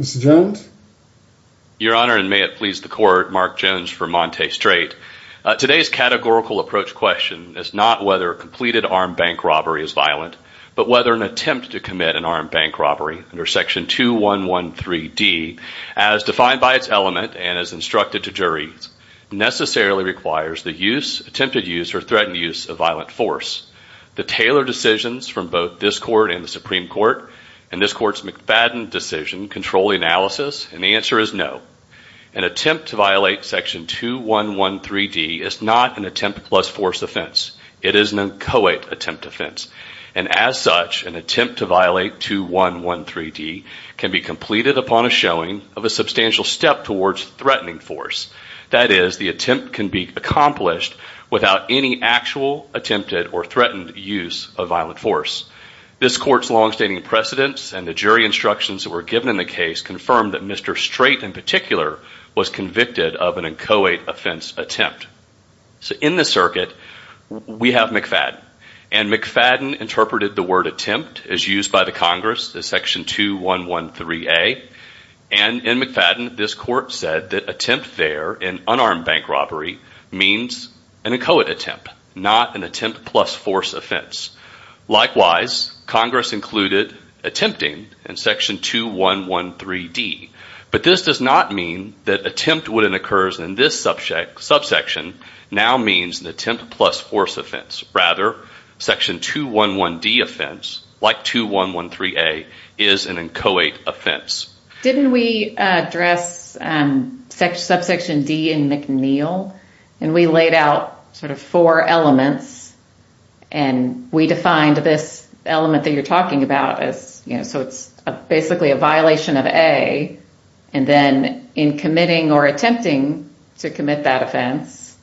Mr. Jones. Your honor and may it please the court Mark Jones for Monte Straite. Today's categorical approach question is not whether completed armed bank robbery is violent but whether an attempt to commit an armed bank robbery under section 2 1 1 3 D as defined by its element and as instructed to jury necessarily requires the use attempted use or threatened use of violent force the Taylor decisions from both this court and the Supreme Court and this court's McFadden decision control analysis and the answer is no an attempt to violate section 2 1 1 3 D is not an attempt plus force offense it is an uncoated attempt offense and as such an attempt to violate 2 1 1 3 D can be completed upon a showing of a substantial step towards threatening force that is the attempt can be accomplished without any actual attempted or threatened use of violent force this court's long-standing precedents and the jury instructions that were given in the case confirmed that Mr. Strait in particular was convicted of an inchoate offense attempt so in the circuit we have McFadden and McFadden interpreted the word attempt as used by the Congress the section 2 1 1 3 a and in McFadden this court said that attempt there in unarmed bank robbery means an inchoate attempt not an attempt plus force offense likewise Congress included attempting in section 2 1 1 3 D but this does not mean that attempt wouldn't occurs in this subject subsection now means an attempt plus force offense rather section 2 1 1 D offense like 2 1 1 3 a is an inchoate offense didn't we address subsection D in McNeil and we laid out sort of four elements and we defined this element that you're talking about as you know so it's basically a violation of a and then in committing or attempting to commit that offense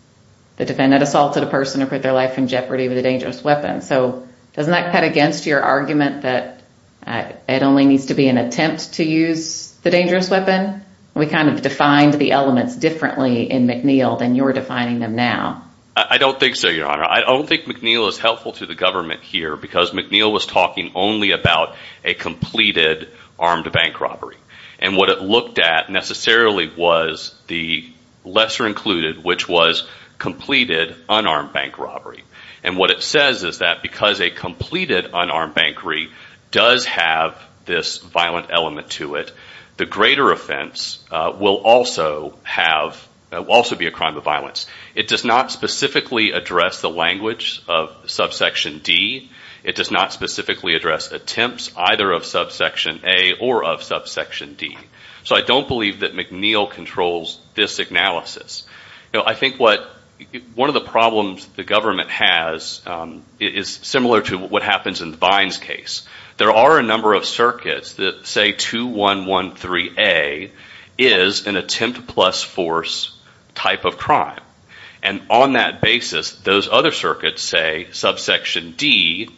the defendant assaulted a person or put their life in jeopardy with a dangerous weapon so doesn't that cut against your argument that it only needs to be an attempt to use the dangerous weapon we kind of defined the elements differently in McNeil than you're defining them now I don't think so your honor I don't think McNeil is helpful to the government here because McNeil was talking only about a completed armed bank robbery and what it looked at necessarily was the lesser included which was completed unarmed bank robbery and what it says is that because a completed unarmed bank re does have this violent element to it the greater offense will also have also be a crime of violence it does not specifically address the language of subsection D it does not specifically address attempts either of subsection a or of subsection D so I don't believe that McNeil controls this analysis I think what one of the problems the government has is similar to what happens in vines case there are a number of circuits that say 2113 a is an attempt plus force type of crime and on that basis those other circuits say subsection D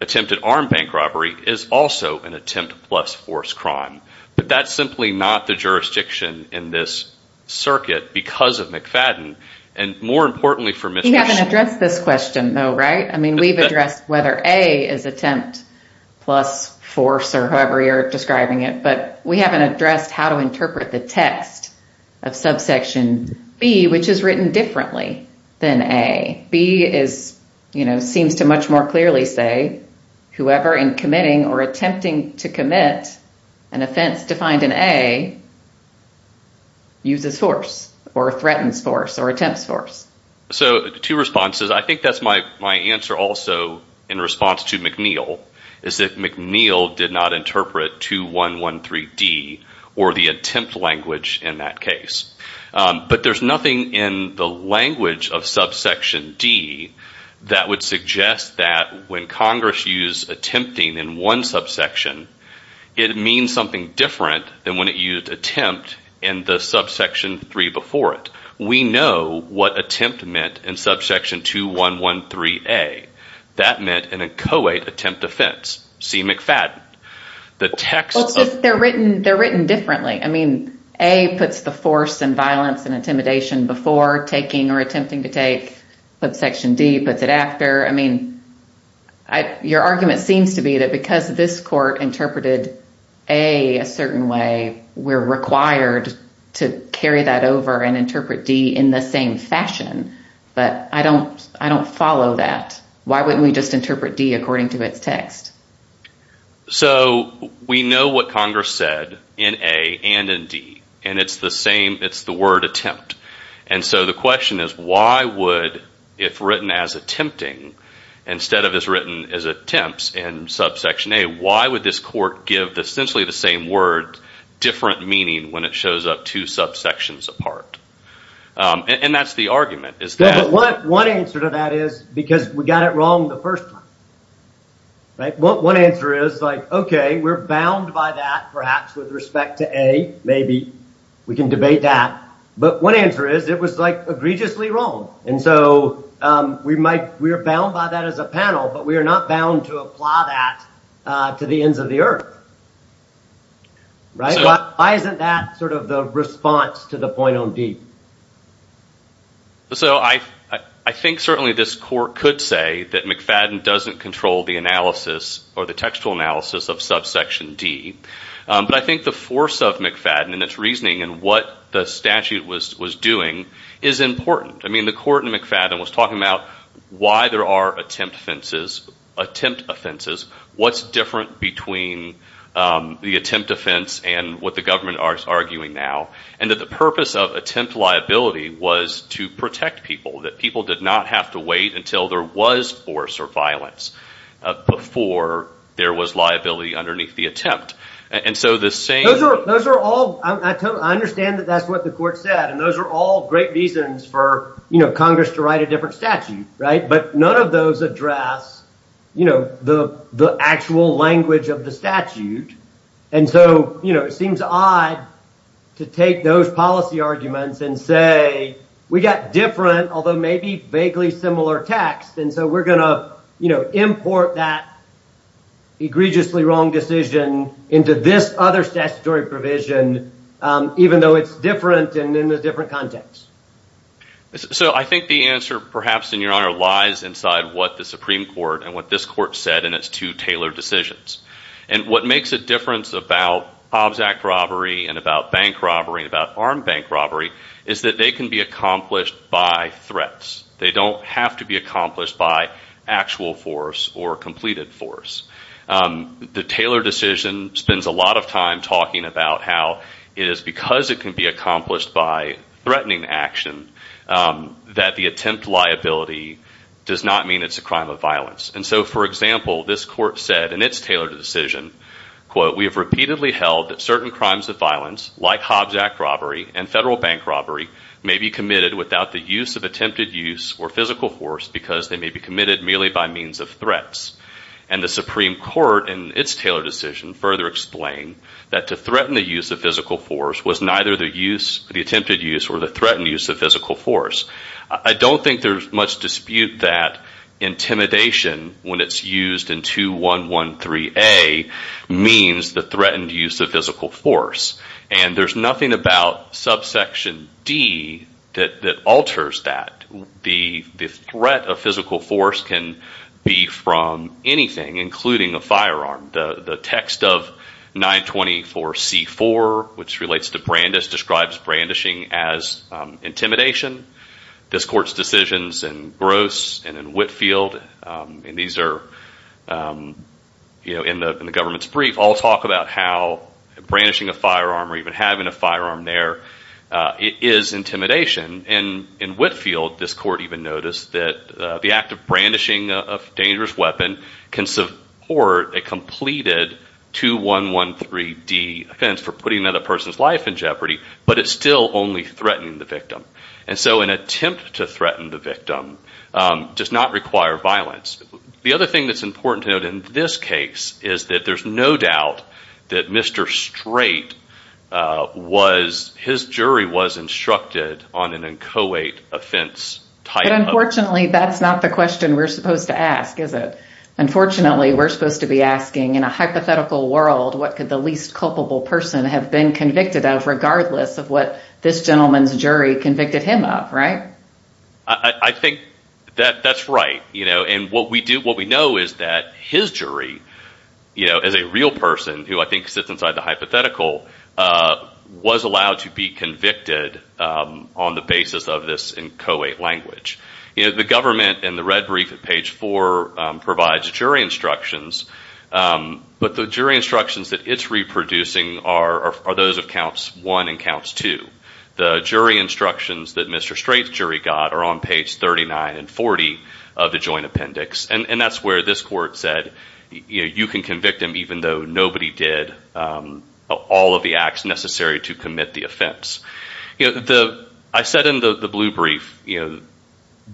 attempted armed bank robbery is also an attempt plus force crime but that's simply not the jurisdiction in this circuit because of McFadden and more importantly for me haven't addressed this question though right I mean we've addressed whether a is attempt plus force or however you're describing it but we haven't addressed how to interpret the text of subsection B which is written differently than a B is you know seems to much more clearly say whoever in committing or attempting to commit an offense defined in a uses force or threatens force or attempts force so two responses I think that's my my answer also in response to McNeil is that McNeil did not interpret 2113 D or the attempt language in that case but there's nothing in the language of subsection D that would suggest that when Congress used attempting in one subsection it means something different than when it used attempt in the subsection three before it we know what attempt meant in subsection 2113 a that meant in a co-ed attempt offense C McFadden the text they're written they're written differently I mean a puts the force and violence and intimidation before taking or attempting to take but section D puts it after I mean I your argument seems to be that because this court interpreted a a certain way we're required to carry that over and interpret D in the same fashion but I don't I don't follow that why wouldn't we just interpret D according to its text so we know what Congress said in a and indeed and it's the same it's the word attempt and so the question is why would if written as attempting instead of is written as attempts and subsection a why would this court give essentially the same word different meaning when it shows up two subsections apart and that's the argument is that what one answer to that is because we got it wrong the first time right what one answer is like okay we're bound by that perhaps with respect to a maybe we can debate that but one answer is it was like egregiously wrong and so we might we are bound by that as a panel but we are not bound to apply that to the ends of the earth right why isn't that sort of the response to the point on deep so I I think certainly this court could say that McFadden doesn't control the analysis or the textual analysis of subsection D but I think the force of McFadden and its reasoning and what the statute was was doing is important I mean the court and McFadden was talking about why there are attempt offenses attempt offenses what's different between the attempt offense and what the government are arguing now and that the purpose of attempt liability was to protect people that people did not have to wait until there was force or violence before there was liability underneath the attempt and so the same those are all I understand that that's what the court said and those are all great reasons for you know Congress to write a different statute right but none of those address you know the the actual language of the statute and so you know it seems odd to take those policy arguments and say we got different although maybe vaguely similar text and so we're gonna you know import that egregiously wrong decision into this other statutory provision even though it's different and in the different context so I think the answer perhaps in your honor lies inside what the Supreme Court and what this court said in its two tailored decisions and what makes a difference about obs act robbery and about bank robbery about armed bank robbery is that they can be accomplished by threats they don't have to be accomplished by actual force or completed force the Taylor decision spends a lot of time talking about how it is because it can be accomplished by threatening action that the attempt liability does not mean it's a crime of violence and so for example this court said and it's tailored decision quote we have repeatedly held that certain crimes of violence like Hobbs Act robbery and federal bank robbery may be committed without the use of attempted use or physical force because they may be committed merely by means of threats and the Supreme Court and its Taylor decision further explain that to threaten the use of physical force was neither the use the attempted use or the threatened use of physical force I don't think there's much dispute that intimidation when it's used in 2113 a means the threatened use of physical force and there's nothing about subsection D that that alters that the threat of physical force can be from anything including a firearm the text of 924 C4 which relates to Brandis describes brandishing as intimidation this court's decisions and gross and in Whitfield and these are you know in the government's brief all talk about how brandishing a firearm or even having a firearm there it is intimidation and in Whitfield this court even noticed that the act of brandishing of dangerous weapon can support a completed 2113 D offense for putting another person's life in jeopardy but it's still only threatening the victim and so an attempt to threaten the victim does not require violence the other thing that's important to note in this case is that there's no doubt that mr. straight was his jury was instructed on an inchoate offense time unfortunately that's not the question we're supposed to ask is it unfortunately we're supposed to be asking in a hypothetical world what could the least culpable person have been convicted of regardless of what this gentleman's jury convicted him up right I think that that's right you know and what we do what we know is that his jury you know as a real person who I think sits inside the hypothetical was allowed to be convicted on the basis of this inchoate language you know the government and the red brief at page 4 provides jury instructions but the jury instructions that it's reproducing are those of counts 1 and counts 2 the jury instructions that mr. straight jury got are on page 39 and 40 of the joint appendix and and that's where this court said you can convict him even though nobody did all of the acts necessary to commit the offense you know the I said in the blue brief you know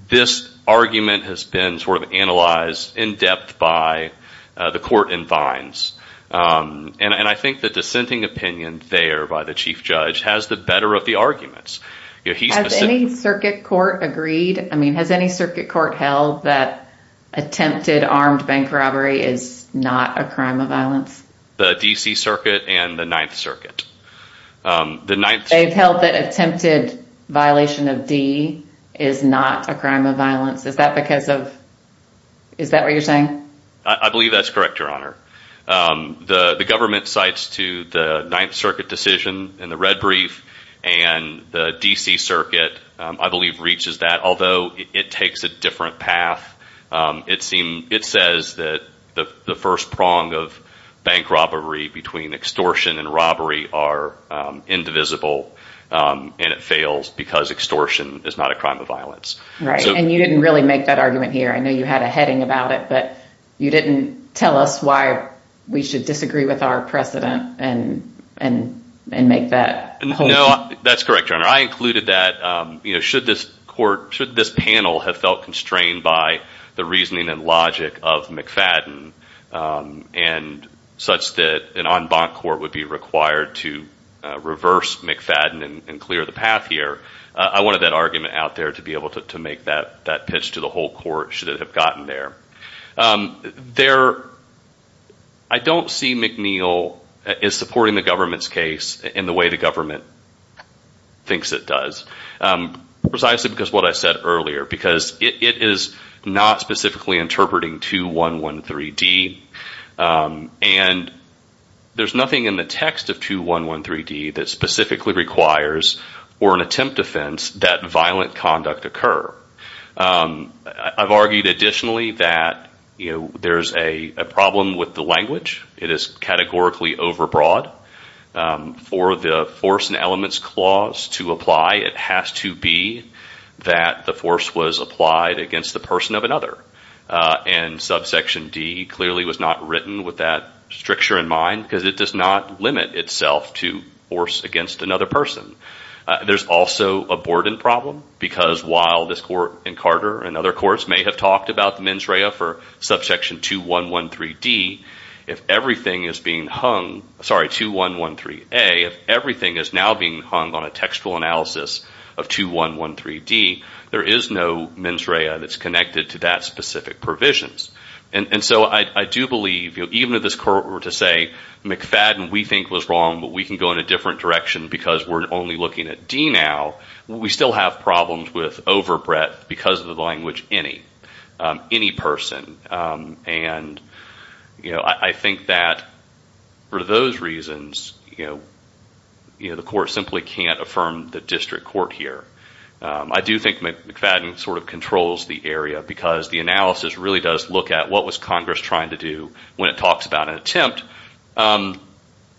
this argument has been sort of analyzed in depth by the court and vines and I think the dissenting opinion there by the chief judge has the better of the arguments any circuit court agreed I mean has any circuit court held that attempted armed bank robbery is not a crime of violence the DC Circuit and the Ninth Circuit the night they've held that attempted violation of D is not a crime of violence is that because of is that what you're saying I believe that's correct your honor the government cites to the Ninth Circuit decision in the red brief and the DC Circuit I believe reaches that although it takes a different path it seemed it says that the first prong of bank robbery between extortion and robbery are indivisible and it fails because extortion is not a crime of violence right and you didn't really make that argument here I know you had a heading about it but you didn't tell us why we should disagree with our precedent and and and make that no that's correct your honor I included that you know should this court should this panel have felt constrained by the reasoning and logic of McFadden and such that an en banc court would be required to reverse McFadden and clear the path here I wanted that argument out there to be able to make that that pitch to the whole court should it have gotten there there I don't see McNeil is supporting the government's case in the way the government thinks it does precisely because what I said earlier because it is not specifically interpreting 2113 D and there's nothing in the text of 2113 D that specifically requires or an attempt defense that violent conduct occur I've argued additionally that you know there's a problem with the language it is categorically overbroad for the force and elements clause to apply it has to be that the force was applied against the person of another and subsection D clearly was not written with that stricture in mind because it does not limit itself to force against another person there's also a board and problem because while this court and Carter and other courts may have talked about the mens rea for subsection 2113 D if everything is being hung sorry 2113 a if everything is now being hung on a that's connected to that specific provisions and and so I do believe you even at this court were to say McFadden we think was wrong but we can go in a different direction because we're only looking at D now we still have problems with overbreadth because of the language any any person and you know I think that for those reasons you know you know the court simply can't affirm the district court here I do think McFadden sort of controls the area because the analysis really does look at what was Congress trying to do when it talks about an attempt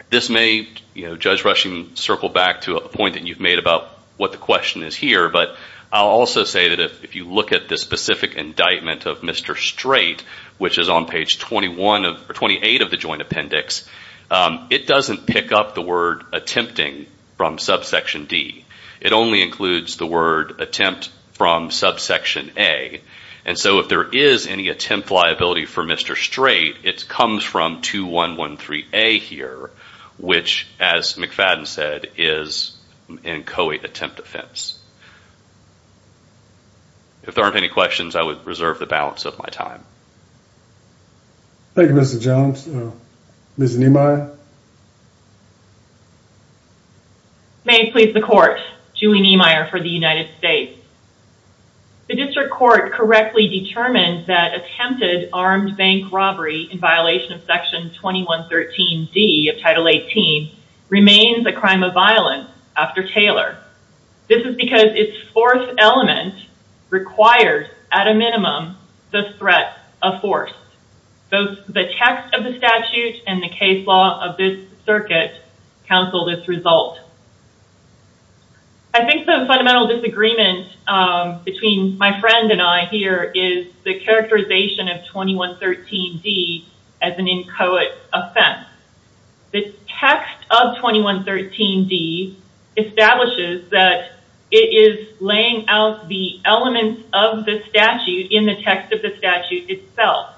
this may you know judge rushing circle back to a point that you've made about what the question is here but I'll also say that if you look at the specific indictment of mr. straight which is on page 21 of 28 of the joint appendix it doesn't pick up the word attempting from subsection D it only includes the word attempt from subsection a and so if there is any attempt liability for mr. straight it comes from two one one three a here which as McFadden said is in Coey attempt offense if there aren't any questions I would reserve the balance of my time thank you mr. Jones mrs. Nimoy may please the court Julie Niemeyer for the United States the district court correctly determined that attempted armed bank robbery in violation of section 2113 D of title 18 remains a crime of violence after Taylor this is because its fourth element requires at a minimum the threat of force both the text of the statute and the case law of this circuit counsel this result I think the fundamental disagreement between my friend and I here is the characterization of 2113 D as an inchoate offense the text of 2113 D establishes that it is laying out the elements of the statute in the text of the statute itself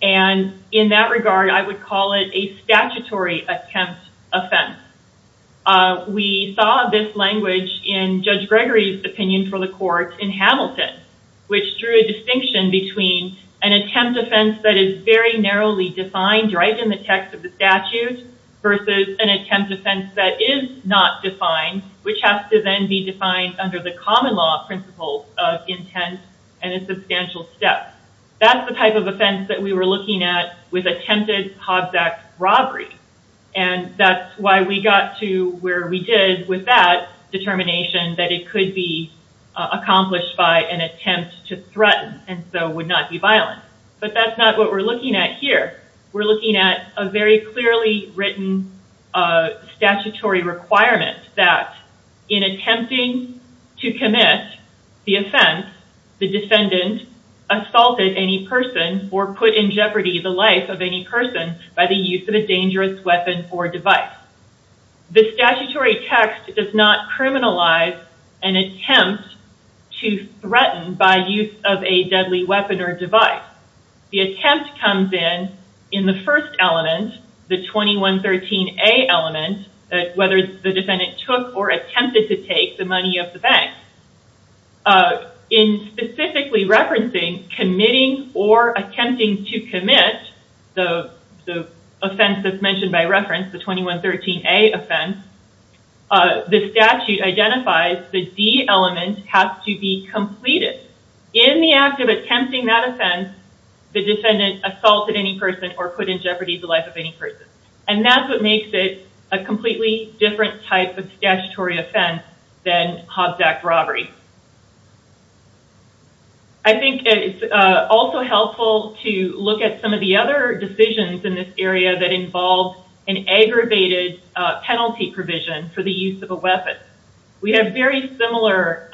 and in that regard I would call it a statutory attempt offense we saw this language in Judge Gregory's opinion for the court in Hamilton which drew a distinction between an attempt offense that is very narrowly defined right in the text of the statute versus an attempt offense that is not defined which has to then be defined under the common law principles of intent and a substantial step that's the type of offense that we were looking at with attempted Hobbs Act robbery and that's why we got to where we did with that determination that it could be accomplished by an attempt to threaten and so would not be violent but that's not what we're looking at here we're looking at a very clearly written statutory requirement that in attempting to commit the offense the defendant assaulted any person or put in jeopardy the life of any person by the use of a dangerous weapon or device the statutory text does not criminalize an attempt to threaten by use of a deadly weapon or device the attempt comes in in the first element the 2113 a element whether the defendant took or attempted to take the money of the bank in specifically referencing committing or attempting to commit the offense that's mentioned by reference the 2113 a offense the statute identifies the D element has to be completed in the act of attempting that offense the defendant assaulted any person or put in jeopardy the life of any person and that's what makes it a completely different type of statutory offense than Hobbs Act robbery I think it's also helpful to look at some of the other decisions in this area that involves an aggravated penalty provision for the use of a weapon we have very similar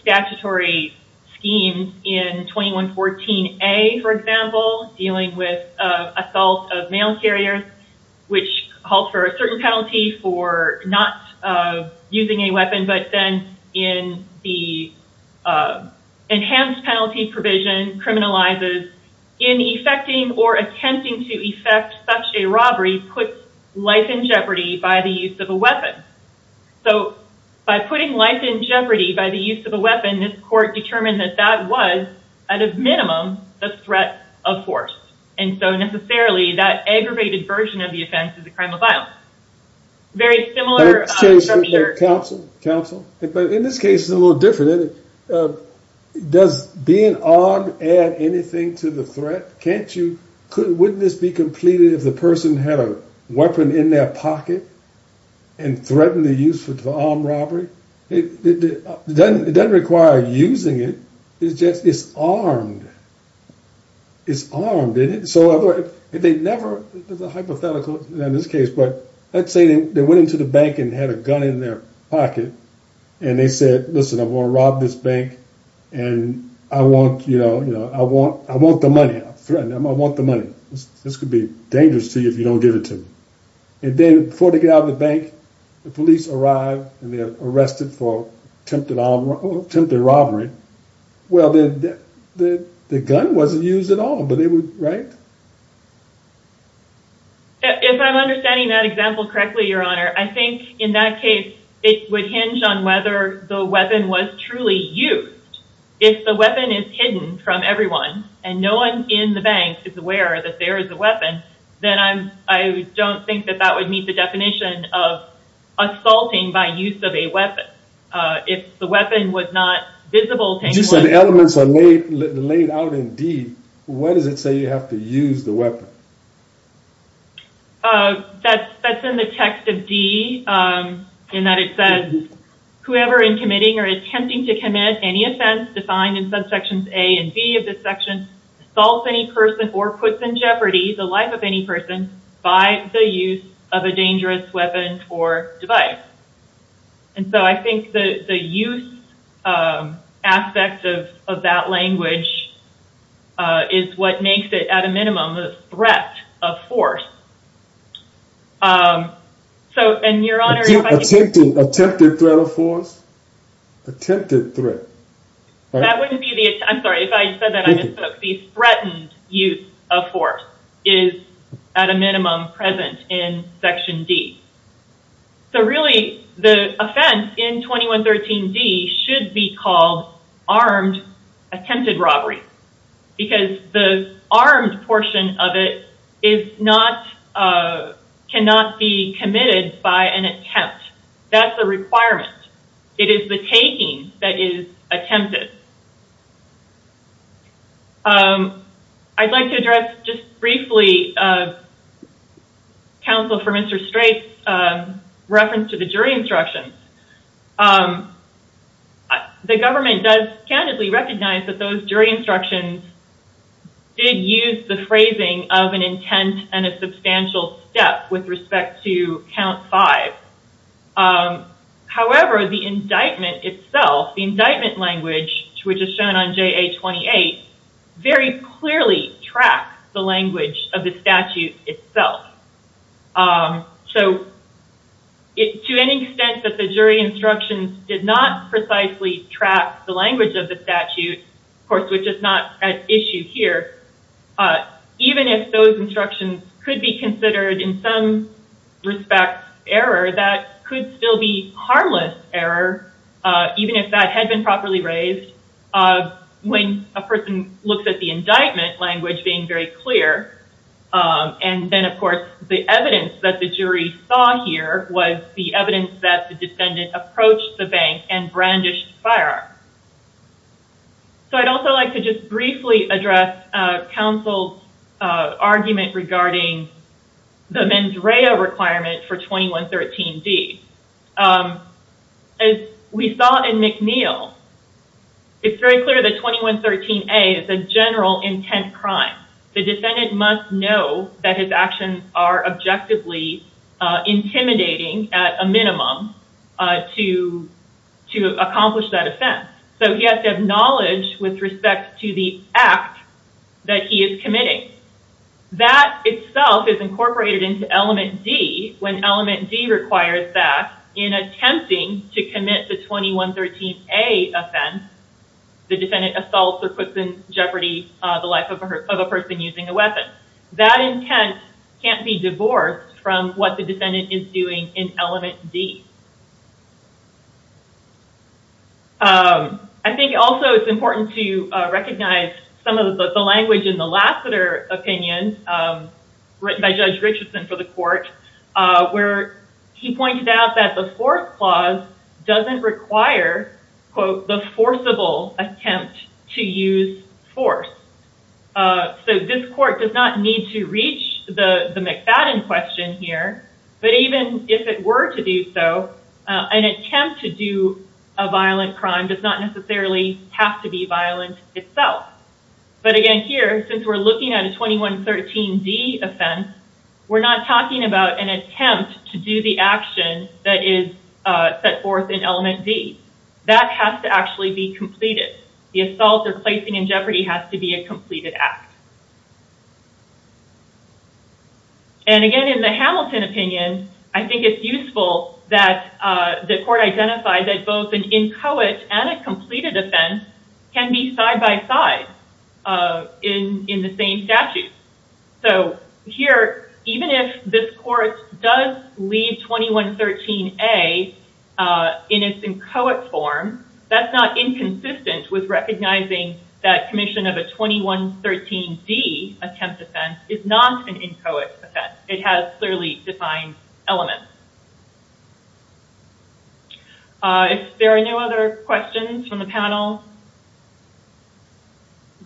statutory schemes in 2114 a for example dealing with assault of mail carriers which calls for a certain penalty for not using a weapon but then in the enhanced penalty provision criminalizes in effecting or attempting to effect such a robbery puts life in jeopardy by the use of a weapon so by putting life in jeopardy by the use of a weapon this court determined that that was at a minimum the threat of force and so necessarily that aggravated version of the offense is a crime of violence very similar to your counsel counsel but in this case is a little different does being odd add anything to the threat can't you couldn't wouldn't this be completed if the person had a weapon in their pocket and threatened to use for armed robbery it doesn't require using it it's just it's armed it's armed in it so if they never hypothetical in this case but let's say they went into the bank and had a gun in their pocket and they said listen I'm gonna rob this bank and I want you know you know I want I want the money I'm threatened I want the money this could be dangerous to you if you don't give it to me and then before they get out of the bank the police arrived and they're arrested for attempted attempted robbery well then the gun wasn't used at all but they would right if I'm understanding that example correctly your honor I think in that case it would hinge on whether the weapon was truly used if the weapon is hidden from everyone and no one in the is aware that there is a weapon then I'm I don't think that that would meet the definition of assaulting by use of a weapon if the weapon was not visible just said the elements are made laid out indeed what does it say you have to use the weapon that's that's in the text of D in that it says whoever in committing or attempting to commit any offense defined in subsections A and B of this section assaults any person or puts in jeopardy the life of any person by the use of a dangerous weapon or device and so I think the the use aspect of that language is what makes it at a minimum the threat of force so and your honor attempted threat of force attempted threat threatened use of force is at a minimum present in section D so really the offense in 2113 D should be called armed attempted robbery because the armed portion of it is not cannot be committed by an attempt that's a requirement it is the taking that is attempted I'd like to address just briefly counsel for mr. Straits reference to the jury instructions the government does candidly recognize that those jury instructions did use the phrasing of an intent and a substantial step with respect to count five however the indictment itself the indictment language which is shown on ja-28 very clearly track the language of the statute itself so it to any extent that the jury instructions did not precisely track the language of the statute of course which is not an issue here even if those instructions could be considered in some respects error that could still be harmless error even if that had been properly raised when a person looks at the indictment language being very clear and then of course the evidence that the jury saw here was the evidence that the defendant approached the bank and firearm so I'd also like to just briefly address counsel argument regarding the mens rea requirement for 2113 D as we saw in McNeil it's very clear that 2113 a is a general intent crime the defendant must know that his actions are objectively intimidating at a minimum to to accomplish that offense so he has to have knowledge with respect to the act that he is committing that itself is incorporated into element D when element D requires that in attempting to commit the 2113 a offense the defendant assaults or puts in jeopardy the life of a person using a weapon that intent can't be divorced from what the defendant is doing in element D I think also it's important to recognize some of the language in the Lassiter opinion written by Judge Richardson for the court where he pointed out that the fourth clause doesn't require quote the attempt to use force so this court does not need to reach the the McFadden question here but even if it were to do so an attempt to do a violent crime does not necessarily have to be violent itself but again here since we're looking at a 2113 D offense we're not talking about an attempt to do the action that is set forth in element D that has to actually be completed the assault or placing in jeopardy has to be a completed act and again in the Hamilton opinion I think it's useful that the court identified that both an inchoate and a completed offense can be side-by-side in in the same statute so here even if this court does leave 2113 a in its inchoate form that's not inconsistent with recognizing that commission of a 2113 D attempt offense is not an inchoate offense it has clearly defined elements if there are no other questions from the panel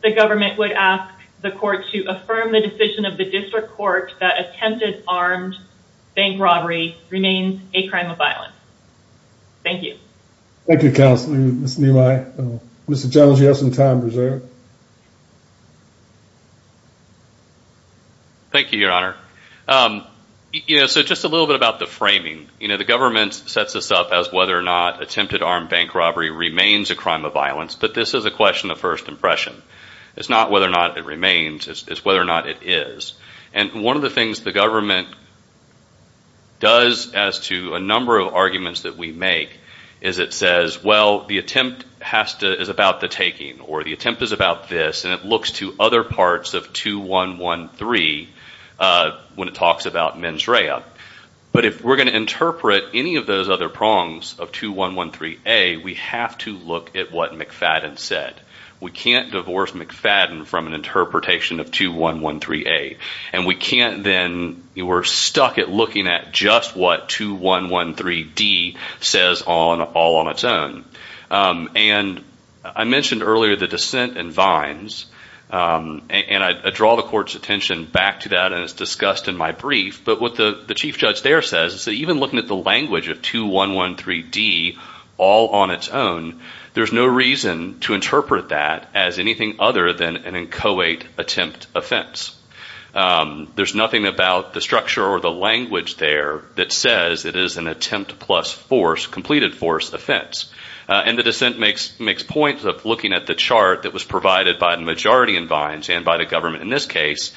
the government would ask the court to affirm the decision of the district court that attempted armed bank robbery remains a crime of violence thank you thank you counsel mr. Jones you have some time reserve thank you your honor you know so just a little bit about the framing you know the government's sets us up as whether or not attempted armed bank robbery remains a crime of violence but this is a question of first impression it's not whether or not it remains it's whether or not it is and one of the things the government does as to a number of arguments that we make is it says well the attempt has to is about the taking or the attempt is about this and it looks to other parts of 2113 when it talks about mens rea but if we're going to interpret any of those other prongs of 2113 a we have to look at what McFadden said we can't divorce McFadden from an interpretation of 2113 a and we can't then you were stuck at looking at just what 2113 D says on all on its own and I mentioned earlier the dissent and vines and I draw the court's attention back to that and it's discussed in my brief but what the the chief judge there says is that even looking at the language of 2113 D all on its own there's no reason to interpret that as anything other than an inchoate attempt offense there's nothing about the structure or the language there that says it is an attempt plus force completed force offense and the dissent makes makes points of looking at the chart that was provided by the majority in vines and by the government in this case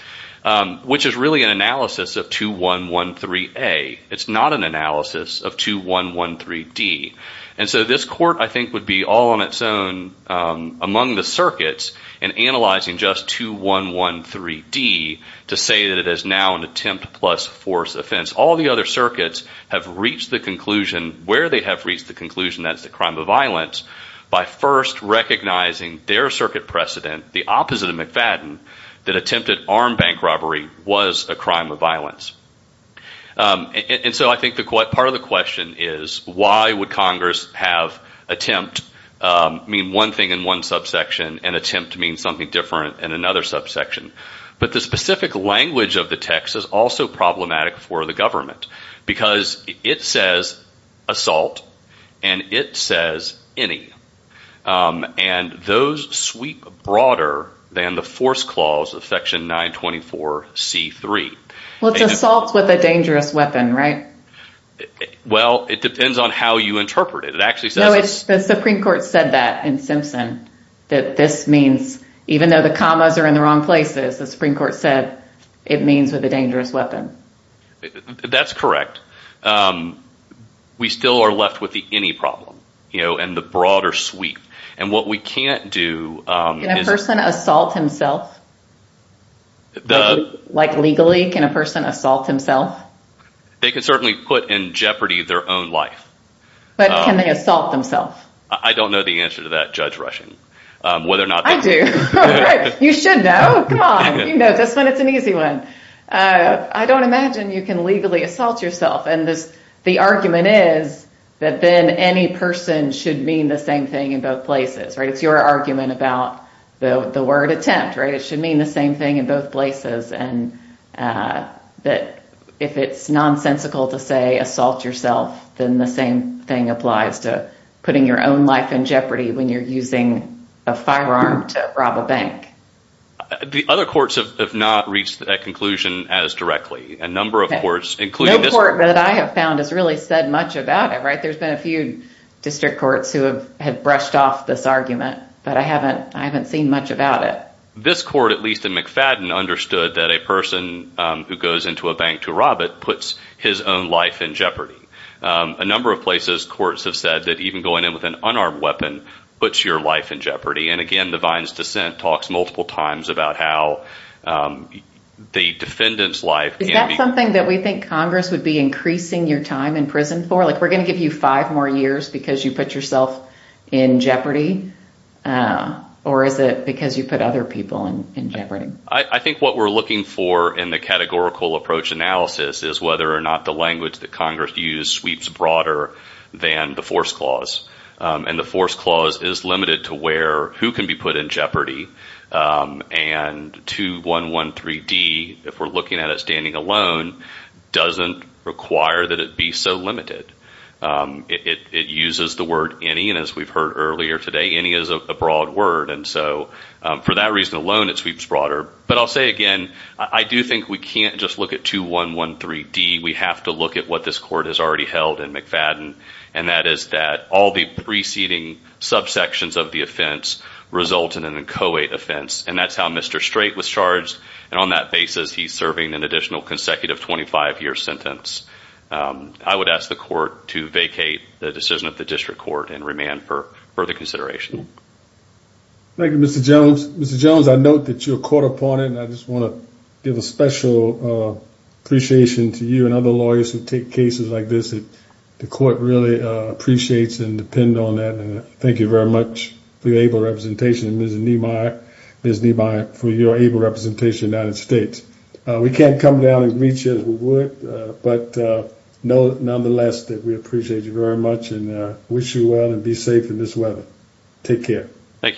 which is really an analysis of 2113 a it's not an analysis of 2113 D and so this court I think would be all on its own among the circuits and analyzing just 2113 D to say that it is now an attempt plus force offense all the other circuits have reached the conclusion where they have reached the conclusion that's the crime of violence by first recognizing their circuit precedent the opposite of McFadden that attempted armed bank robbery was a crime of violence and so I think the quite part of the question is why would Congress have attempt mean one thing in one subsection and attempt to mean something different in another subsection but the specific language of the text is also problematic for the government because it says assault and it says any and those sweep broader than the force clause of section 924 c3 what's assault with a dangerous weapon right well it depends on how you interpret it it actually says it's the Supreme Court said that in Simpson that this means even though the commas are in the wrong places the Supreme Court said it means with a dangerous weapon that's correct we still are left with the any problem you know and the broader sweep and what we can't do a person assault himself the like legally can a person assault himself they can certainly put in jeopardy their own life but can they assault themselves I don't know the answer to that judge rushing whether or not I do you should know come on you know this one it's an easy one I don't imagine you can legally assault yourself and this the argument is that then any person should mean the same thing in both places right it's your argument about the word attempt right it should mean the same thing in both places and that if it's nonsensical to say assault yourself then the same thing applies to putting your own life in jeopardy when you're using a firearm to rob a bank the other courts have not reached that conclusion as directly a number of courts including this court that I have found has really said much about it right there's been a few district courts who have had brushed off this argument but I haven't I haven't much about it this court at least in McFadden understood that a person who goes into a bank to rob it puts his own life in jeopardy a number of places courts have said that even going in with an unarmed weapon puts your life in jeopardy and again the Vines dissent talks multiple times about how the defendants life is that something that we think Congress would be increasing your time in prison for like we're gonna give you five more years because you put yourself in jeopardy or is it because you put other people in jeopardy I think what we're looking for in the categorical approach analysis is whether or not the language that Congress used sweeps broader than the force clause and the force clause is limited to where who can be put in jeopardy and to one one three D if we're looking at it standing alone doesn't require that it be so limited it uses the word any and as we've heard earlier today any is a broad word and so for that reason alone it sweeps broader but I'll say again I do think we can't just look at two one one three D we have to look at what this court has already held in McFadden and that is that all the preceding subsections of the offense result in an inchoate offense and that's how Mr. Strait was charged and on that basis he's serving an additional consecutive 25 year sentence I would ask the court to vacate the decision of the district court and remand for further consideration thank you mr. Jones mr. Jones I note that you're caught up on it and I just want to give a special appreciation to you and other lawyers who take cases like this it the court really appreciates and depend on that and thank you very much for your able representation and there's a need my there's need by it for your able representation United States we can't come down and reach as we would but no nonetheless that we appreciate you very much and wish you well and be safe in this weather take care Thank You